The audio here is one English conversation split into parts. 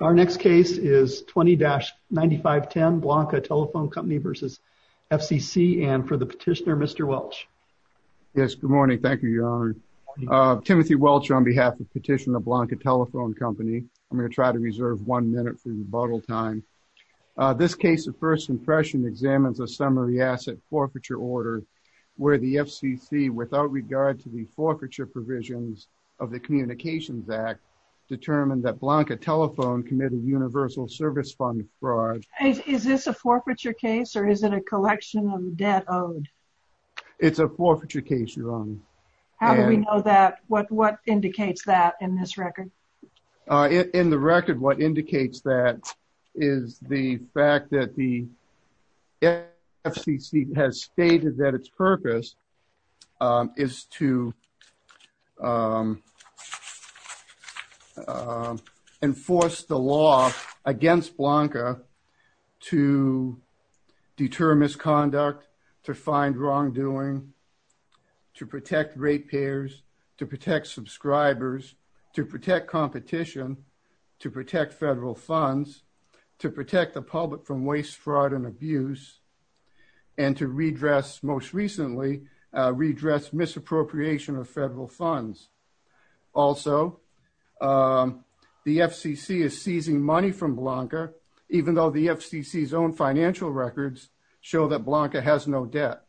Our next case is 20-9510, Blanca Telephone Company v. FCC, and for the petitioner, Mr. Welch. Yes, good morning. Thank you, Your Honor. Timothy Welch on behalf of Petitioner Blanca Telephone Company. I'm going to try to reserve one minute for rebuttal time. This case of first impression examines a summary asset forfeiture order, where the FCC, without regard to the forfeiture provisions of the Communications Act, determined that Blanca Telephone committed universal service fund fraud. Is this a forfeiture case or is it a collection of debt owed? It's a forfeiture case, Your Honor. How do we know that? What indicates that in this record? In the record, what indicates that is the fact that the FCC has stated that its purpose is to enforce the law against Blanca to deter misconduct, to find wrongdoing, to protect ratepayers, to protect subscribers, to protect competition, to protect federal funds, to protect the public from waste, fraud, and abuse, and to redress, most recently, redress misappropriation of federal funds. Also, the FCC is seizing money from Blanca, even though the FCC's own financial records show that Blanca has no debt.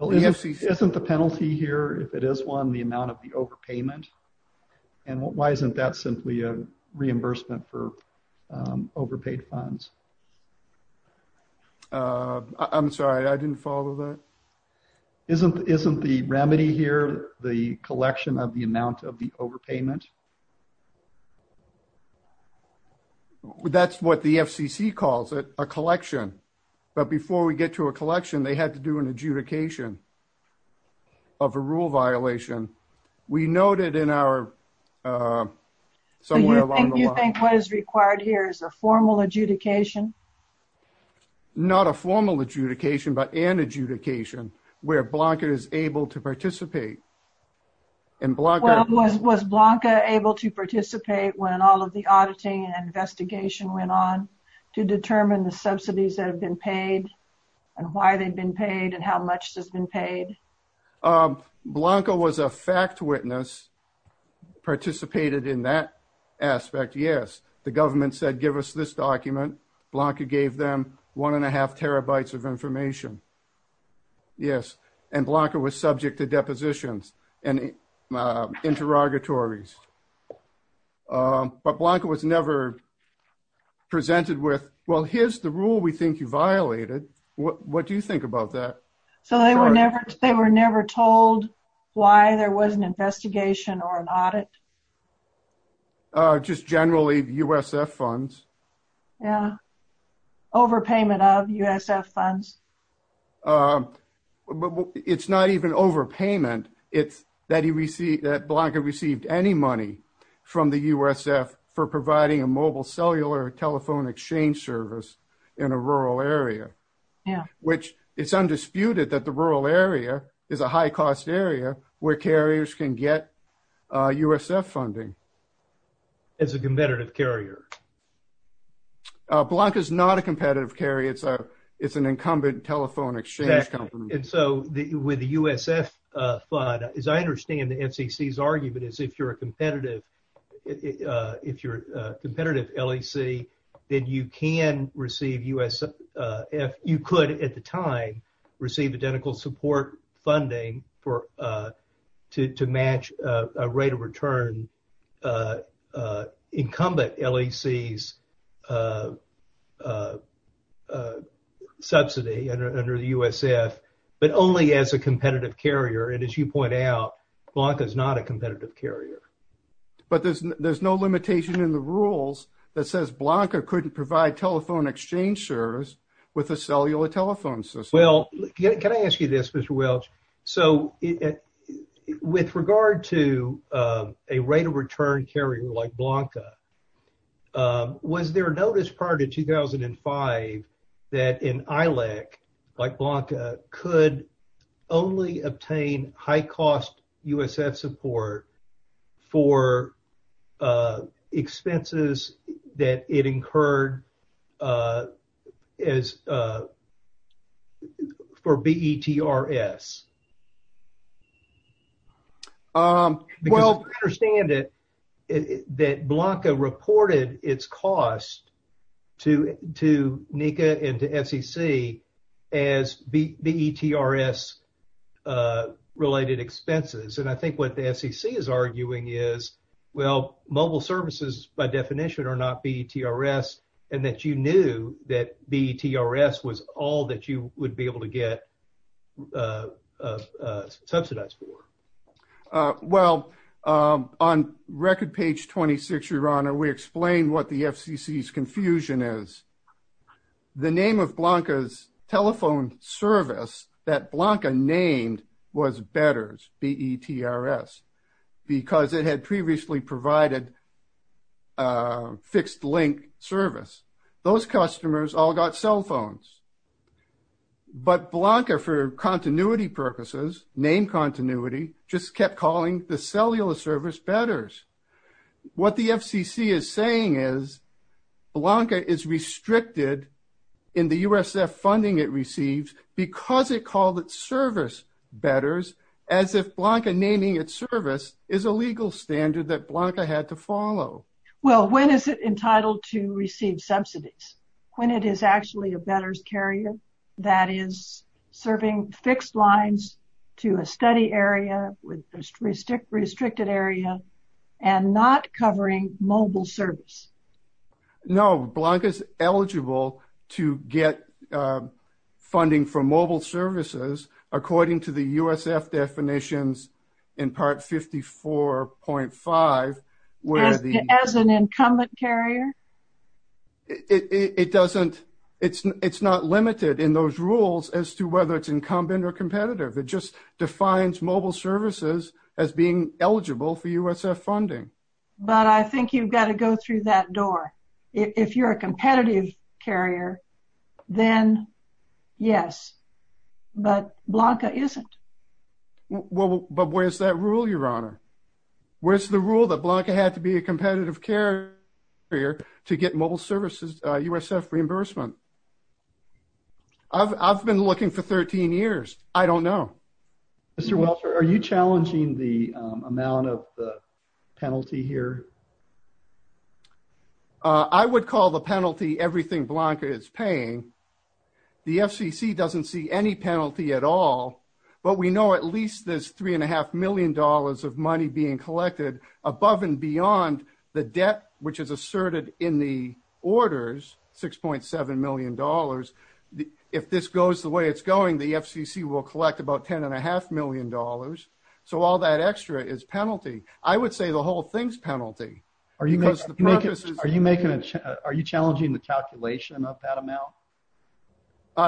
Isn't the penalty here, if it is one, the amount of the overpayment? And why isn't that simply a reimbursement for overpaid funds? I'm sorry, I didn't follow that. Isn't the remedy here the collection of the amount of the overpayment? That's what the FCC calls it, a collection. But before we get to a collection, they had to do an adjudication of a rule violation. We noted in our, somewhere along the line. Do you think what is required here is a formal adjudication? Not a formal adjudication, but an adjudication where Blanca is able to participate. Well, was Blanca able to participate when all of the auditing and investigation went on to determine the subsidies that have been paid, and why they've been paid, and how much has been paid? Blanca was a fact witness, participated in that aspect, yes. The government said, give us this document. Blanca gave them one and a half terabytes of information, yes. And Blanca was subject to inquiries from physicians and interrogatories. But Blanca was never presented with, well, here's the rule we think you violated, what do you think about that? So they were never told why there was an investigation or an audit? Just generally USF funds. Yeah, overpayment of USF funds. But it's not even overpayment, it's that he received, that Blanca received any money from the USF for providing a mobile cellular telephone exchange service in a rural area. Which it's undisputed that the rural area is a high cost area where carriers can get USF funding. As a competitive carrier. Blanca is not a competitive carrier, it's an incumbent telephone exchange company. And so with the USF fund, as I understand the FCC's argument is if you're a competitive if you're a competitive LEC, then you can receive USF, you could at the time receive identical support funding to match a rate of return incumbent LEC's subsidy under the USF, but only as a competitive carrier. And as you point out, Blanca is not a competitive carrier. But there's no limitation in the rules that says Blanca couldn't provide telephone exchange service with a cellular telephone system. Can I ask you this, Mr. Welch? So with regard to a rate of return carrier like Blanca, was there a notice prior to 2005 that an ILEC like Blanca could only obtain high cost USF support for expenses that it incurred as for BETRS? Um, well, I understand it, that Blanca reported its cost to NECA and SEC as BETRS related expenses. And I think what the SEC is arguing is, well, mobile services, by definition, are not BETRS, and that you knew that BETRS was all that you would be able to get subsidized for. Well, on record page 26, your honor, we explained what the FCC's confusion is. The name of Blanca's telephone service that Blanca named was BETRS, B-E-T-R-S, because it had previously provided fixed link service. Those customers all got cell phones. But Blanca, for continuity purposes, named continuity, just kept calling the cellular service BETRS. What the FCC is saying is Blanca is restricted in the USF funding it receives because it called it service BETRS, as if Blanca naming its service is a legal standard that Blanca had to follow. Well, when is it entitled to receive subsidies? When it is actually a BETRS carrier that is serving fixed lines to a study area with restricted area and not covering mobile service. No, Blanca is eligible to get funding for mobile services, according to the USF definitions in Part 54.5. As an incumbent carrier? It's not limited in those rules as to whether it's incumbent or competitive. It just has to go through that door. If you're a competitive carrier, then yes, but Blanca isn't. But where's that rule, your honor? Where's the rule that Blanca had to be a competitive carrier to get mobile services, USF reimbursement? I've been looking for 13 years. I don't know. Mr. Welcher, are you challenging the amount of the penalty here? I would call the penalty everything Blanca is paying. The FCC doesn't see any penalty at all, but we know at least there's three and a half million dollars of money being collected above and beyond the debt, which is asserted in the orders, 6.7 million dollars. If this goes the way it's going, the FCC will collect about 10 and a half million dollars. So all that extra is penalty. I would say the whole thing's penalty. Are you challenging the calculation of that amount?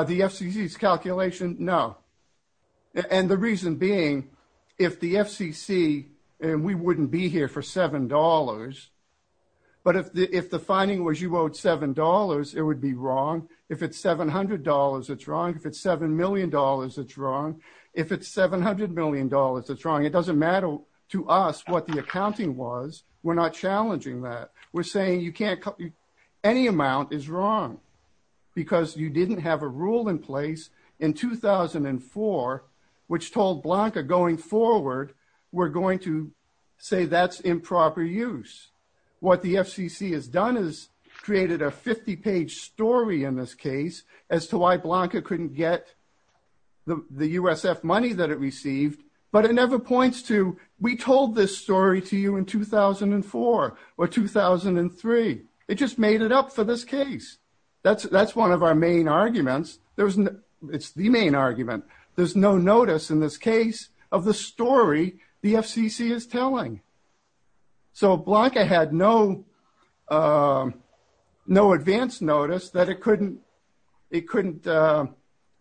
The FCC's calculation, no. And the reason being, if the FCC, and we wouldn't be here for seven dollars, but if the finding was you owed seven dollars, it would be wrong. If it's 700 dollars, it's wrong. If it's 7 million dollars, it's wrong. If it's 700 million dollars, it's wrong. It doesn't matter to us what the accounting was. We're not challenging that. We're saying any amount is wrong because you didn't have a rule in place in 2004, which told Blanca going forward, we're going to say that's improper use. What the FCC has done is created a 50-page story in this case as to why Blanca couldn't get the USF money that it received, but it never points to, we told this story to you in 2004 or 2003. It just made it up for this case. That's one of our main arguments. It's the main argument. There's no notice in this case of the story the FCC is telling. Blanca had no advance notice that it couldn't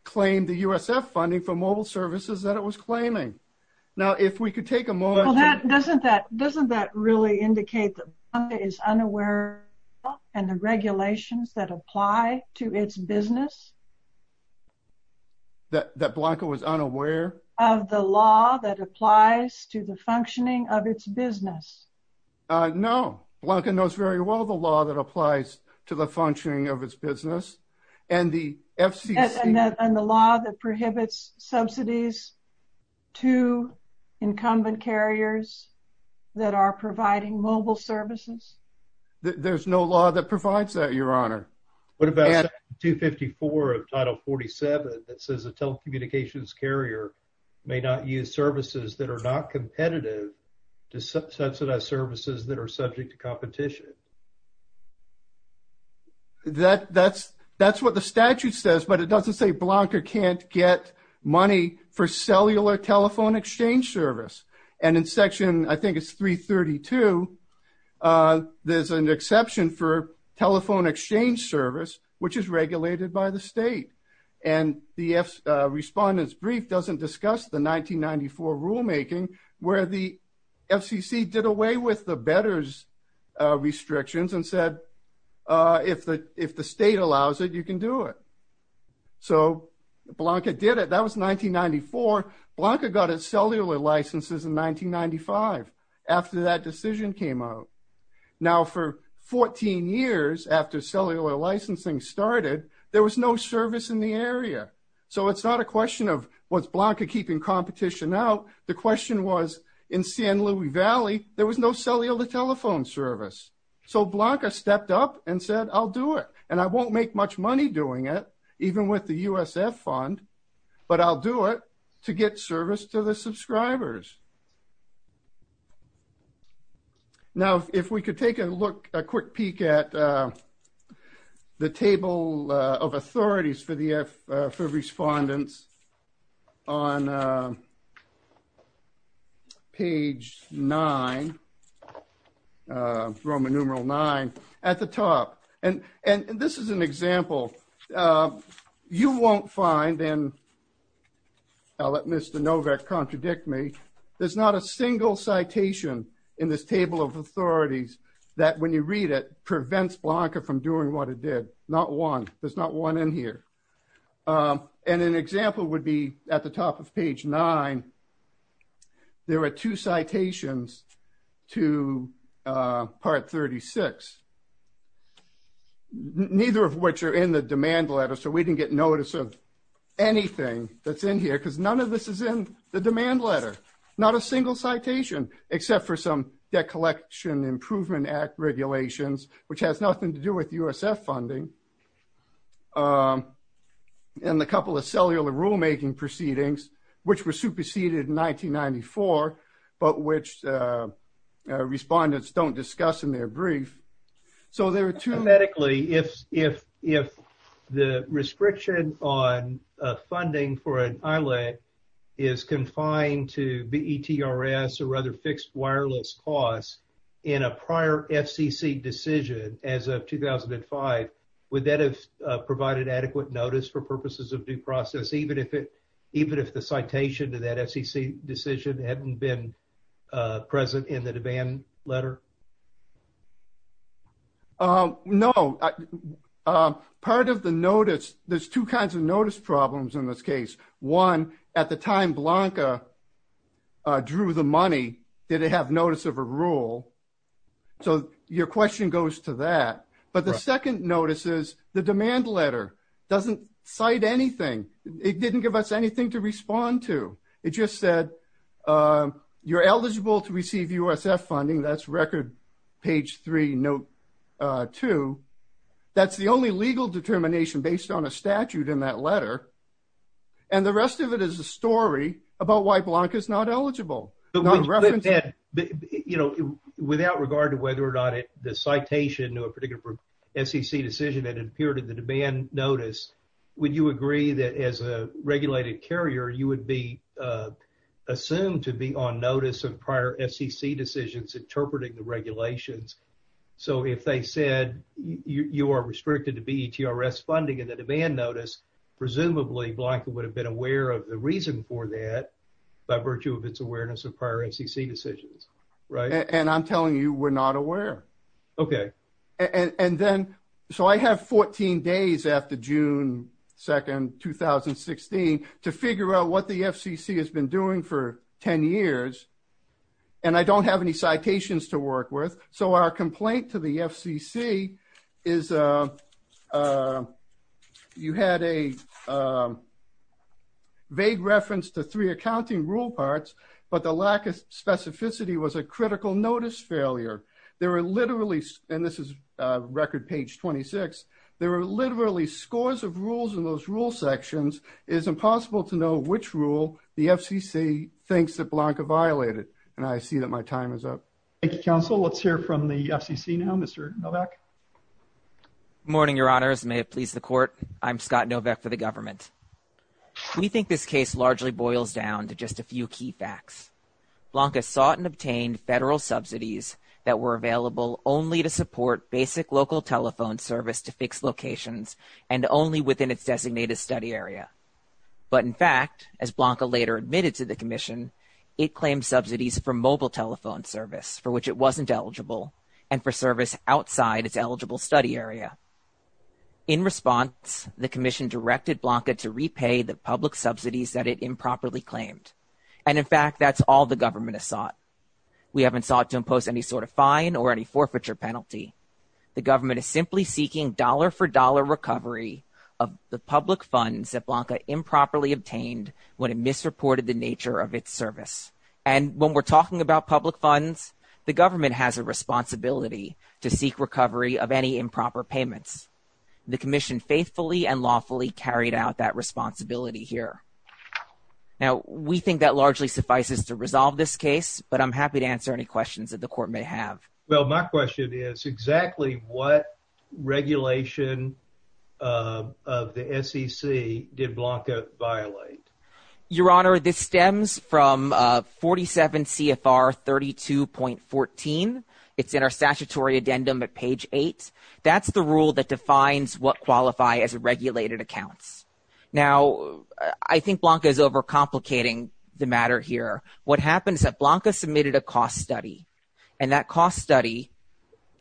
claim the USF funding for mobile services that it was claiming. Now, if we could take a moment... Doesn't that really indicate that Blanca is unaware of the regulations that apply to its business? That Blanca was unaware of the law that applies to the functioning of its business? No. Blanca knows very well the law that applies to the functioning of its business and the FCC... And the law that prohibits subsidies to incumbent carriers that are providing mobile services? There's no law that provides that, may not use services that are not competitive to subsidize services that are subject to competition. That's what the statute says, but it doesn't say Blanca can't get money for cellular telephone exchange service. And in section, I think it's 332, there's an exception for telephone exchange service, which is regulated by the state. And the respondent's brief doesn't discuss the 1994 rulemaking where the FCC did away with the betters restrictions and said, if the state allows it, you can do it. So Blanca did it. That was 1994. Blanca got its cellular licenses in 1995, after that decision came out. Now, for 14 years after cellular licensing started, there was no service in the area. So it's not a question of, was Blanca keeping competition out? The question was, in San Luis Valley, there was no cellular telephone service. So Blanca stepped up and said, I'll do it. And I won't make much money doing it, even with the USF fund, but I'll do it to get service to the subscribers. Now, if we could take a look, a quick peek at the table of authorities for the, for respondents on page nine, Roman numeral nine at the top. And this is an example. You won't find in I'll let Mr. Novak contradict me. There's not a single citation in this table of authorities that when you read it prevents Blanca from doing what it did. Not one. There's not one in here. And an example would be at the top of page nine, there were two citations to part 36, neither of which are in the demand letter. So we didn't get notice of anything that's in here because none of this is in the demand letter, not a single citation, except for some debt collection Improvement Act regulations, which has nothing to do with USF funding. And the couple of cellular rulemaking proceedings, which were superseded in 1994, but which respondents don't discuss in their brief. So there are two medically if, if, if the restriction on funding for an island is confined to the ETRS or other fixed wireless costs in a prior FCC decision as of 2005, would that have provided adequate notice for purposes of due process, even if it, even if the citation to that FCC decision hadn't been present in the demand letter? No. Part of the notice, there's two kinds of notice problems in this case. One at the time Blanca drew the money, did it have notice of a rule? So your question goes to that. But the second notice is the demand letter doesn't cite anything. It didn't give us anything to respond to. It just said, you're eligible to receive USF funding. That's record page three, note two. That's the only legal determination based on a statute in that letter. And the rest of it is a story about why Blanca is not eligible. But, you know, without regard to whether or not the citation to a particular FCC decision that appeared in the demand notice, would you agree that as a regulated carrier, you would be assumed to be on notice of prior FCC decisions, interpreting the regulations. So if they said you are restricted to be ETRS funding in the demand notice, presumably Blanca would have been aware of the reason for that by virtue of its awareness of prior FCC decisions, right? And I'm telling you, we're not aware. Okay. And then, so I have 14 days after June 2nd, 2016, to figure out what the FCC has been doing for 10 years. And I don't have any citations to work with. So our complaint to the FCC is you had a vague reference to three accounting rule parts, but the lack of specificity was a critical notice failure. There are literally, and this is record page 26, there are literally scores of rules in those rule sections. It is impossible to know which rule the FCC thinks that Blanca violated. And I see that my time is up. Thank you, counsel. Let's hear from the FCC now, Mr. Novak. Good morning, your honors. May it please the court. I'm Scott Novak for the government. We think this case largely boils down to just a few key facts. Blanca sought and obtained federal subsidies that were available only to support basic local telephone service to fix locations and only within its designated study area. But in fact, as Blanca later admitted to the commission, it claimed subsidies for mobile telephone service for which it wasn't eligible and for service outside its eligible study area. In response, the commission directed Blanca to repay the public subsidies that it improperly claimed. And in fact, that's all the government has sought. We haven't sought to impose any sort of fine or any forfeiture penalty. The government is simply seeking dollar for dollar recovery of the public funds that Blanca improperly obtained when it misreported the nature of its service. And when we're talking about public funds, the government has a responsibility to seek recovery of any improper payments. The commission faithfully and lawfully carried out that responsibility here. Now, we think that largely suffices to resolve this case, but I'm happy to answer any questions that the court may have. Well, my question is exactly what regulation of the SEC did Blanca violate? Your Honor, this stems from 47 CFR 32.14. It's in our statutory addendum at page eight. That's the rule that defines what qualify as regulated accounts. Now, I think Blanca is and that cost study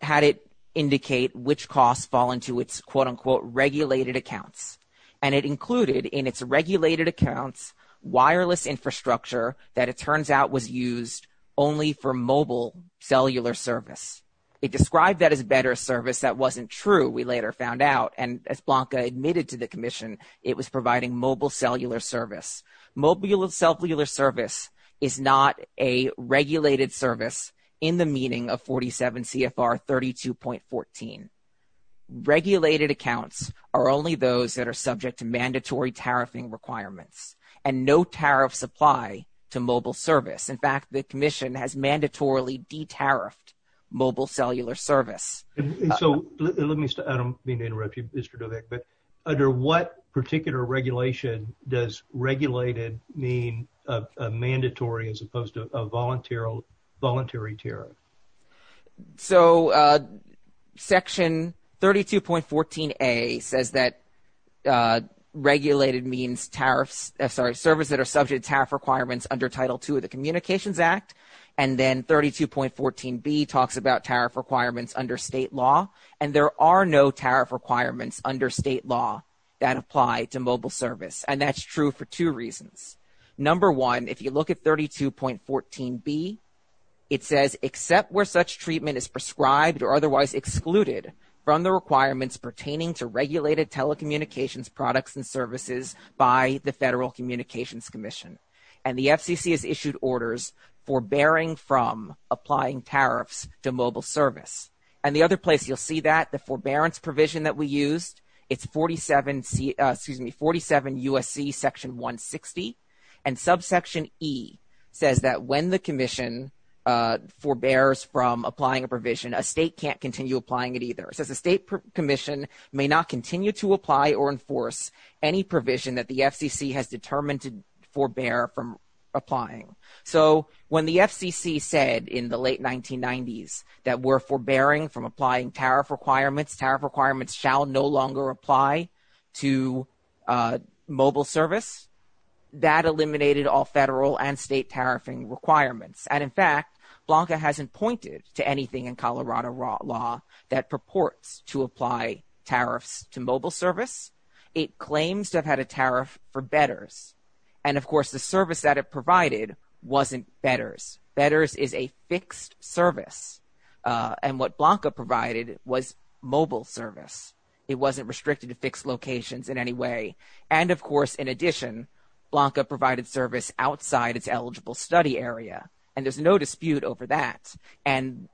had it indicate which costs fall into its, quote unquote, regulated accounts. And it included in its regulated accounts, wireless infrastructure that it turns out was used only for mobile cellular service. It described that as better service. That wasn't true, we later found out. And as Blanca admitted to the commission, it was providing mobile service. Mobile cellular service is not a regulated service in the meaning of 47 CFR 32.14. Regulated accounts are only those that are subject to mandatory tariffing requirements and no tariff supply to mobile service. In fact, the commission has mandatorily de-tariffed mobile cellular service. So let me start, I don't mean to interrupt you, Mr. Dovick, but under what particular regulation does regulated mean a mandatory as opposed to a voluntary tariff? So section 32.14a says that regulated means tariffs, sorry, service that are subject to tariff requirements under Title II of the Communications Act. And then 32.14b talks about tariff requirements under state law. And there are no tariff requirements under state law that apply to mobile service. And that's true for two reasons. Number one, if you look at 32.14b, it says except where such treatment is prescribed or otherwise excluded from the requirements pertaining to regulated telecommunications products and services by the Federal Communications Commission. And the other place you'll see that, the forbearance provision that we used, it's 47 USC section 160. And subsection e says that when the commission forbears from applying a provision, a state can't continue applying it either. It says a state commission may not continue to apply or enforce any provision that the FCC has determined to forbear from applying. So when the FCC said in the late 1990s that we're forbearing from applying tariff requirements, tariff requirements shall no longer apply to mobile service, that eliminated all federal and state tariffing requirements. And in fact, Blanca hasn't pointed to anything in Colorado law that purports to apply tariffs to mobile service. It claims to have had a tariff for bedders. And of course, the service that it provided wasn't bedders. Bedders is a fixed service. And what Blanca provided was mobile service. It wasn't restricted to fixed locations in any way. And of course, in addition, Blanca provided service outside its eligible study area. And there's no dispute over that. And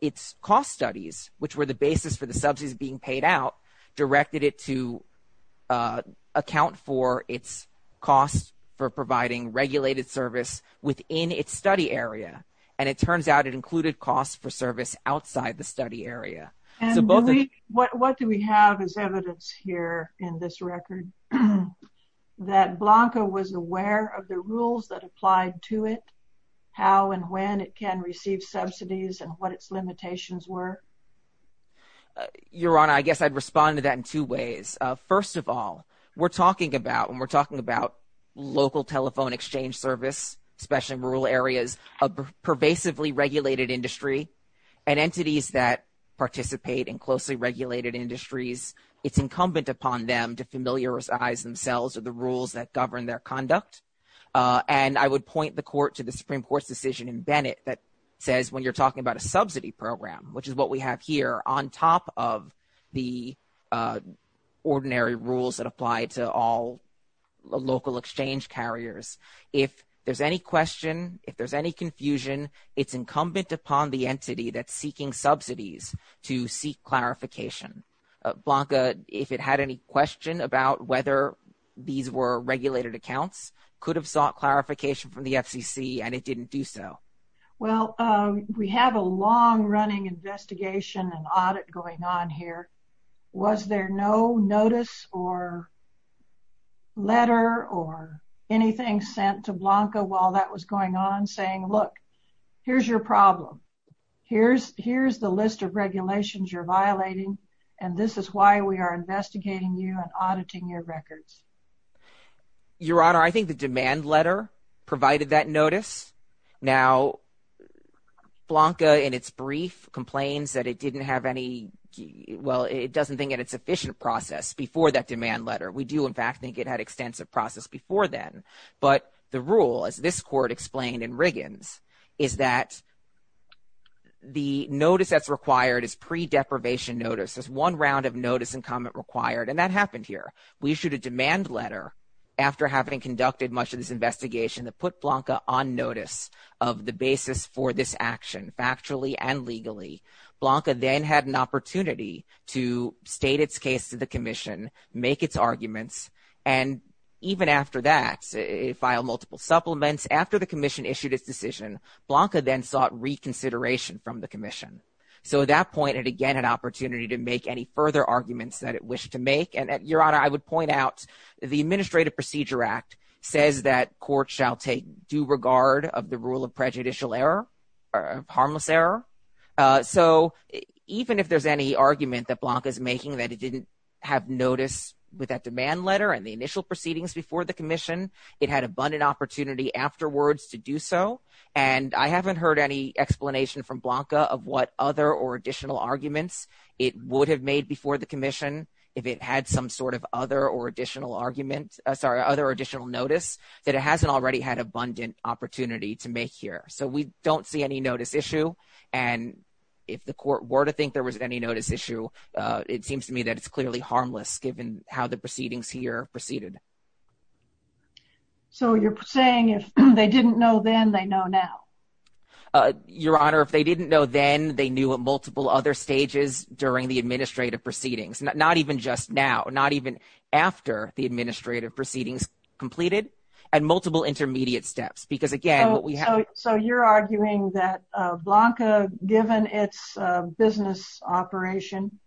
its cost studies, which were the basis for the subsidies being paid out, directed it to account for its cost for providing regulated service within its study area. And it turns out it included costs for service outside the study area. And what do we have as evidence here in this record? That Blanca was aware of the rules that applied to it, how and when it can receive subsidies and what its limitations were? Your Honor, I guess I'd respond to that in two fall. We're talking about when we're talking about local telephone exchange service, especially rural areas, a pervasively regulated industry and entities that participate in closely regulated industries. It's incumbent upon them to familiarize themselves with the rules that govern their conduct. And I would point the court to the Supreme Court's decision in Bennett that says when you're talking about a subsidy program, which is what we have here on top of the ordinary rules that apply to all local exchange carriers. If there's any question, if there's any confusion, it's incumbent upon the entity that's seeking subsidies to seek clarification. Blanca, if it had any question about whether these were regulated accounts, could have sought clarification from the FCC and it didn't do so. Well, we have a long running investigation and audit going on here. Was there no notice or letter or anything sent to Blanca while that was going on saying, look, here's your problem. Here's the list of regulations you're violating. And this is why we are investigating you and auditing your records. Your Honor, I think the demand letter provided that notice. Now, Blanca in its brief complains that it didn't have any. Well, it doesn't think it's efficient process before that demand letter. We do, in fact, think it had extensive process before then. But the rule, as this court explained in Riggins, is that the notice that's required is pre-deprivation notice. There's one round of notice and comment required. And that happened here. We issued a demand letter after having conducted much of this investigation that put Blanca on notice of the basis for this action, factually and legally. Blanca then had an opportunity to state its case to the commission, make its arguments. And even after that, it filed multiple supplements. After the commission issued its decision, Blanca then sought reconsideration from the commission. So at that point, it again had opportunity to make any further arguments that it wished to make. And Your Honor, I would point out the Administrative Procedure Act says that court shall take due regard of the rule of harmless error. So even if there's any argument that Blanca is making that it didn't have notice with that demand letter and the initial proceedings before the commission, it had abundant opportunity afterwards to do so. And I haven't heard any explanation from Blanca of what other or additional arguments it would have made before the commission if it had some sort of other or additional argument, sorry, other additional notice that it hasn't already had there. So we don't see any notice issue. And if the court were to think there was any notice issue, it seems to me that it's clearly harmless given how the proceedings here proceeded. So you're saying if they didn't know then, they know now? Your Honor, if they didn't know then, they knew at multiple other stages during the administrative proceedings, not even just now, not even after the administrative proceedings completed and multiple intermediate steps. So you're arguing that Blanca, given its business operation,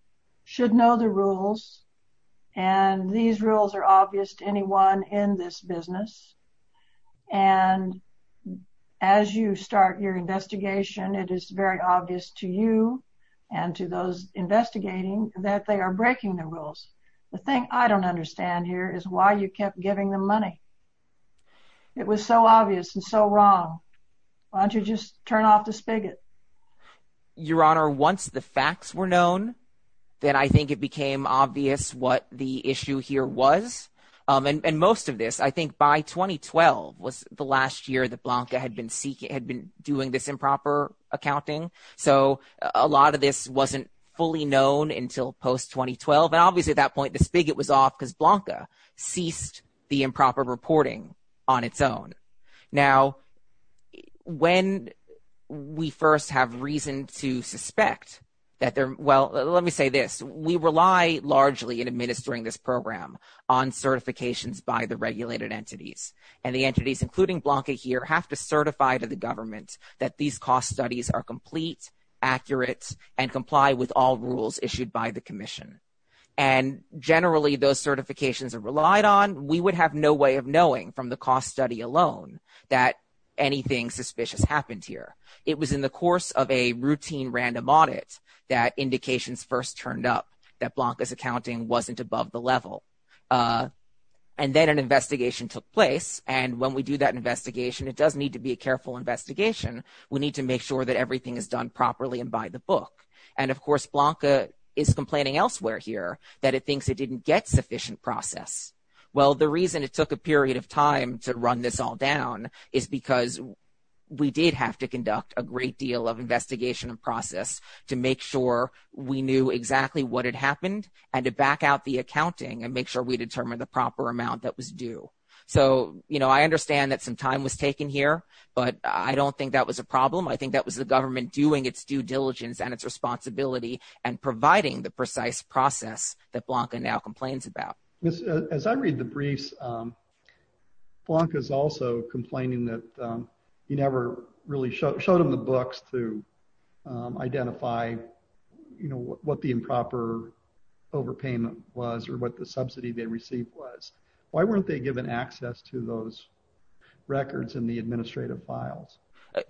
should know the rules and these rules are obvious to anyone in this business. And as you start your investigation, it is very obvious to you and to those investigating that they are breaking the rules. The thing I don't understand here is why you kept giving them money. It was so obvious and so wrong. Why don't you just turn off the spigot? Your Honor, once the facts were known, then I think it became obvious what the issue here was. And most of this, I think by 2012 was the last year that Blanca had been doing this improper accounting. So a lot of this wasn't fully known until post-2012. And obviously at that point, the spigot was off because Blanca ceased the improper reporting on its own. Now, when we first have reason to suspect that they're, well, let me say this, we rely largely in administering this program on certifications by the regulated entities. And the entities, including Blanca here, have to certify to the government that these cost studies are complete, accurate, and comply with all rules issued by the commission. And generally, those certifications are relied on. We would have no way of knowing from the cost study alone that anything suspicious happened here. It was in the course of a routine random audit that indications first turned up that Blanca's accounting wasn't above the level. And then an investigation took place. And when we do that investigation, it does need to be a careful investigation. We need to make sure that everything is done properly and by the book. And of course, Blanca is complaining elsewhere here that it thinks it didn't get sufficient process. Well, the reason it took a period of time to run this all down is because we did have to conduct a great deal of investigation and process to make sure we knew exactly what had happened and to back out the accounting and make sure we determined the I don't think that was a problem. I think that was the government doing its due diligence and its responsibility and providing the precise process that Blanca now complains about. As I read the briefs, Blanca is also complaining that you never really showed him the books to identify what the improper overpayment was or what the subsidy they received was. Why weren't they given access to those records in the administrative files?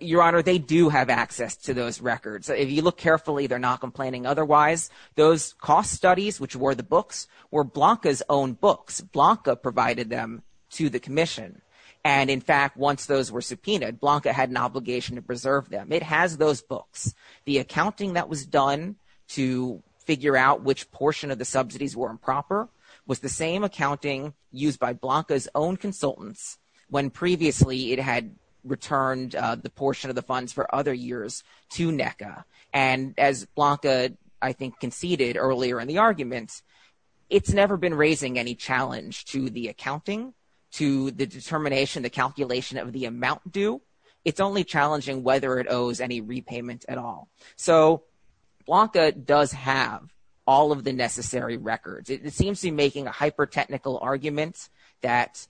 Your Honor, they do have access to those records. If you look carefully, they're not complaining. Otherwise, those cost studies, which were the books, were Blanca's own books. Blanca provided them to the commission. And in fact, once those were subpoenaed, Blanca had an obligation to preserve them. It has those books. The accounting that was used by Blanca's own consultants when previously it had returned the portion of the funds for other years to NECA. And as Blanca, I think, conceded earlier in the argument, it's never been raising any challenge to the accounting, to the determination, the calculation of the amount due. It's only challenging whether it owes any repayment at all. So Blanca does have all of the that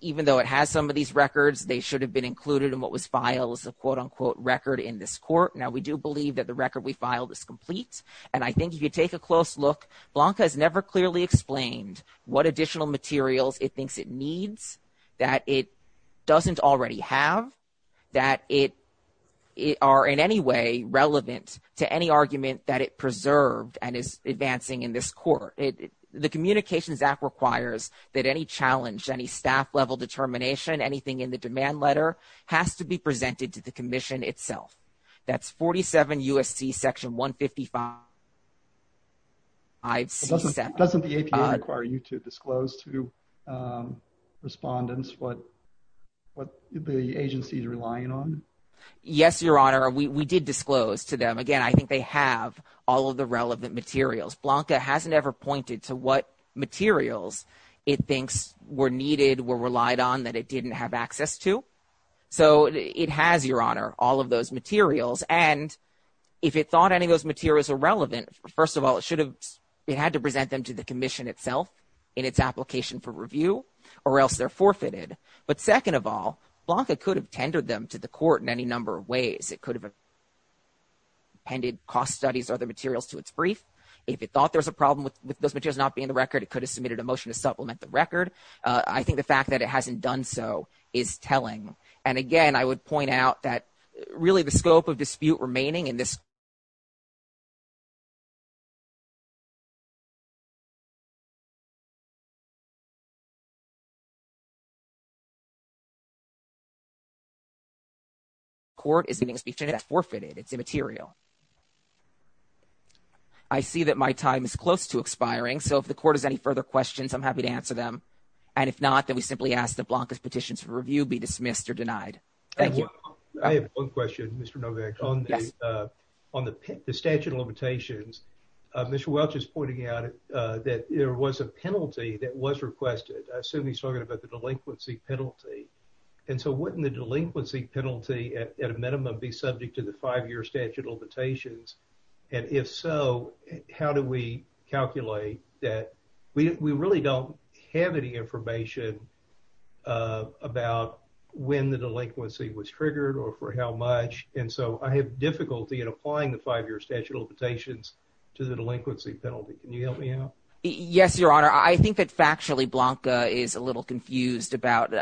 even though it has some of these records, they should have been included in what was filed as a quote-unquote record in this court. Now, we do believe that the record we filed is complete. And I think if you take a close look, Blanca has never clearly explained what additional materials it thinks it needs, that it doesn't already have, that it are in any way relevant to any argument that it preserved and is advancing in this court. The Communications Act requires that any challenge, any staff level determination, anything in the demand letter has to be presented to the Commission itself. That's 47 U.S.C. section 155. Doesn't the APA require you to disclose to respondents what the agency is relying on? Yes, Your Honor, we did disclose to them. Again, I think they have all of the relevant materials. Blanca hasn't ever pointed to what materials it thinks were needed, were relied on, that it didn't have access to. So it has, Your Honor, all of those materials. And if it thought any of those materials are relevant, first of all, it should have, it had to present them to the Commission itself in its application for review or else they're forfeited. But second of all, Blanca could have tendered them to the court in any number of ways. It could have appended cost studies or other materials to its brief. If it thought there was a problem with those materials not being in the record, it could have submitted a motion to supplement the record. I think the fact that it hasn't done so is telling. And again, I would point out that really the scope of dispute remaining in this case. The court is giving a speech and it's forfeited. It's immaterial. I see that my time is close to expiring. So if the court has any further questions, I'm happy to answer them. And if not, then we simply ask that Blanca's petitions for review be dismissed or denied. Thank you. I have one question, Mr. Novak. On the statute of limitations, Mr. Welch is pointing out that there was a penalty that was requested. I assume he's talking about the delinquency penalty. And so wouldn't the delinquency penalty at a minimum be subject to the five-year statute of limitations? And if so, how do we calculate that? We really don't have any information about when the delinquency was triggered or for how much. And so I have difficulty in applying the five-year statute of limitations to the delinquency penalty. Can you help me out? Yes, Your Honor. I think that factually Blanca is a little confused about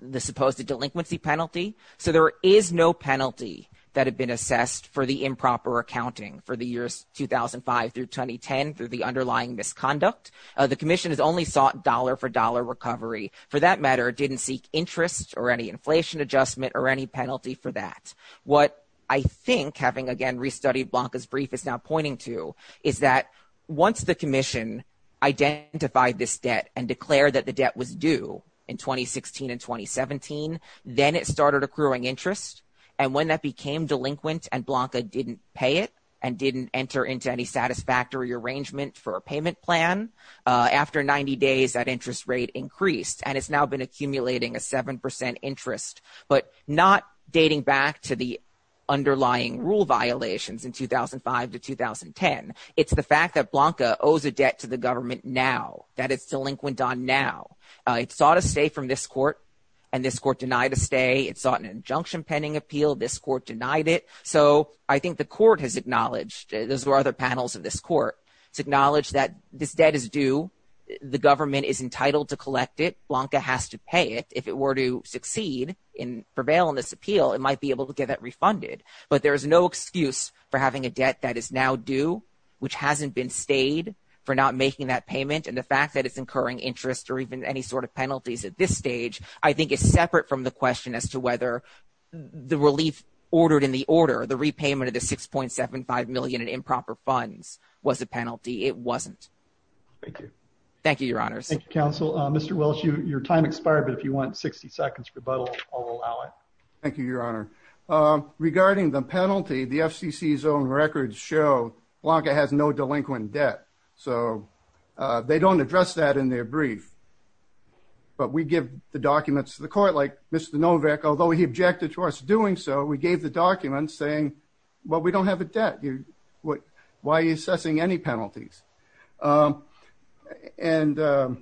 the supposed delinquency penalty. So there is no penalty that had been assessed for the improper accounting for the years 2005 through 2010 through the underlying misconduct. The commission has only sought dollar-for-dollar recovery. For that matter, didn't seek interest or any inflation adjustment or any penalty for that. What I think, having again restudied Blanca's brief, is now pointing to is that once the commission identified this debt and declared that the debt was due in 2016 and 2017, then it started accruing interest. And when that became delinquent and Blanca didn't pay it and didn't enter into any satisfactory arrangement for a payment plan, after 90 days, that interest rate increased. And it's now been accumulating a 7% interest, but not dating back to the underlying rule violations in 2005 to 2010. It's the fact that Blanca owes a debt to the government now, that it's delinquent on now. It sought a stay from this court and this court denied a stay. It sought an injunction pending appeal. This court denied it. So I think the court has acknowledged, those were other panels of this court, to acknowledge that this debt is due. The government is entitled to collect it. Blanca has to pay it. If it were to succeed and prevail on this appeal, it might be able to get that refunded. But there is no excuse for having a debt that is now due, which hasn't been stayed, for not making that payment. And the fact that it's incurring interest or even any sort of penalties at this stage, I think is separate from the question as to whether the relief ordered in the order, the repayment of the 6.75 million in improper funds, was a penalty. It wasn't. Thank you. Thank you, your honors. Thank you, counsel. Mr. Welch, your time expired, but if you want 60 seconds rebuttal, I'll allow it. Thank you, your honor. Regarding the penalty, the FCC's own records show Blanca has no delinquent debt. So they don't address that in their brief. But we give the documents to the court, like Mr. Novick, although he objected to us doing so, we gave the documents saying, well, we don't have a debt. Why are you assessing any penalties? And I'd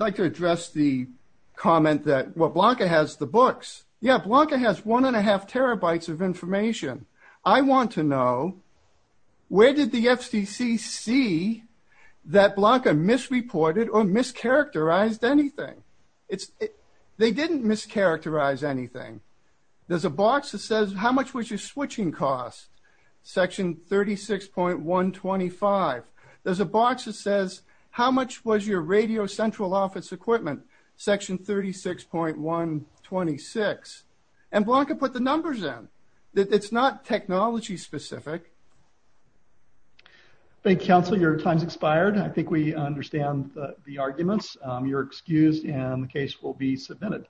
like to address the comment that, well, Blanca has the books. Yeah, Blanca has one and a half terabytes of information. I want to know, where did the FCC see that Blanca misreported or mischaracterized anything? They didn't mischaracterize anything. There's a box that says, how much was your switching cost? Section 36.125. There's a box that says, how much was your radio central office equipment? Section 36.126. And Blanca put the arguments. You're excused and the case will be submitted.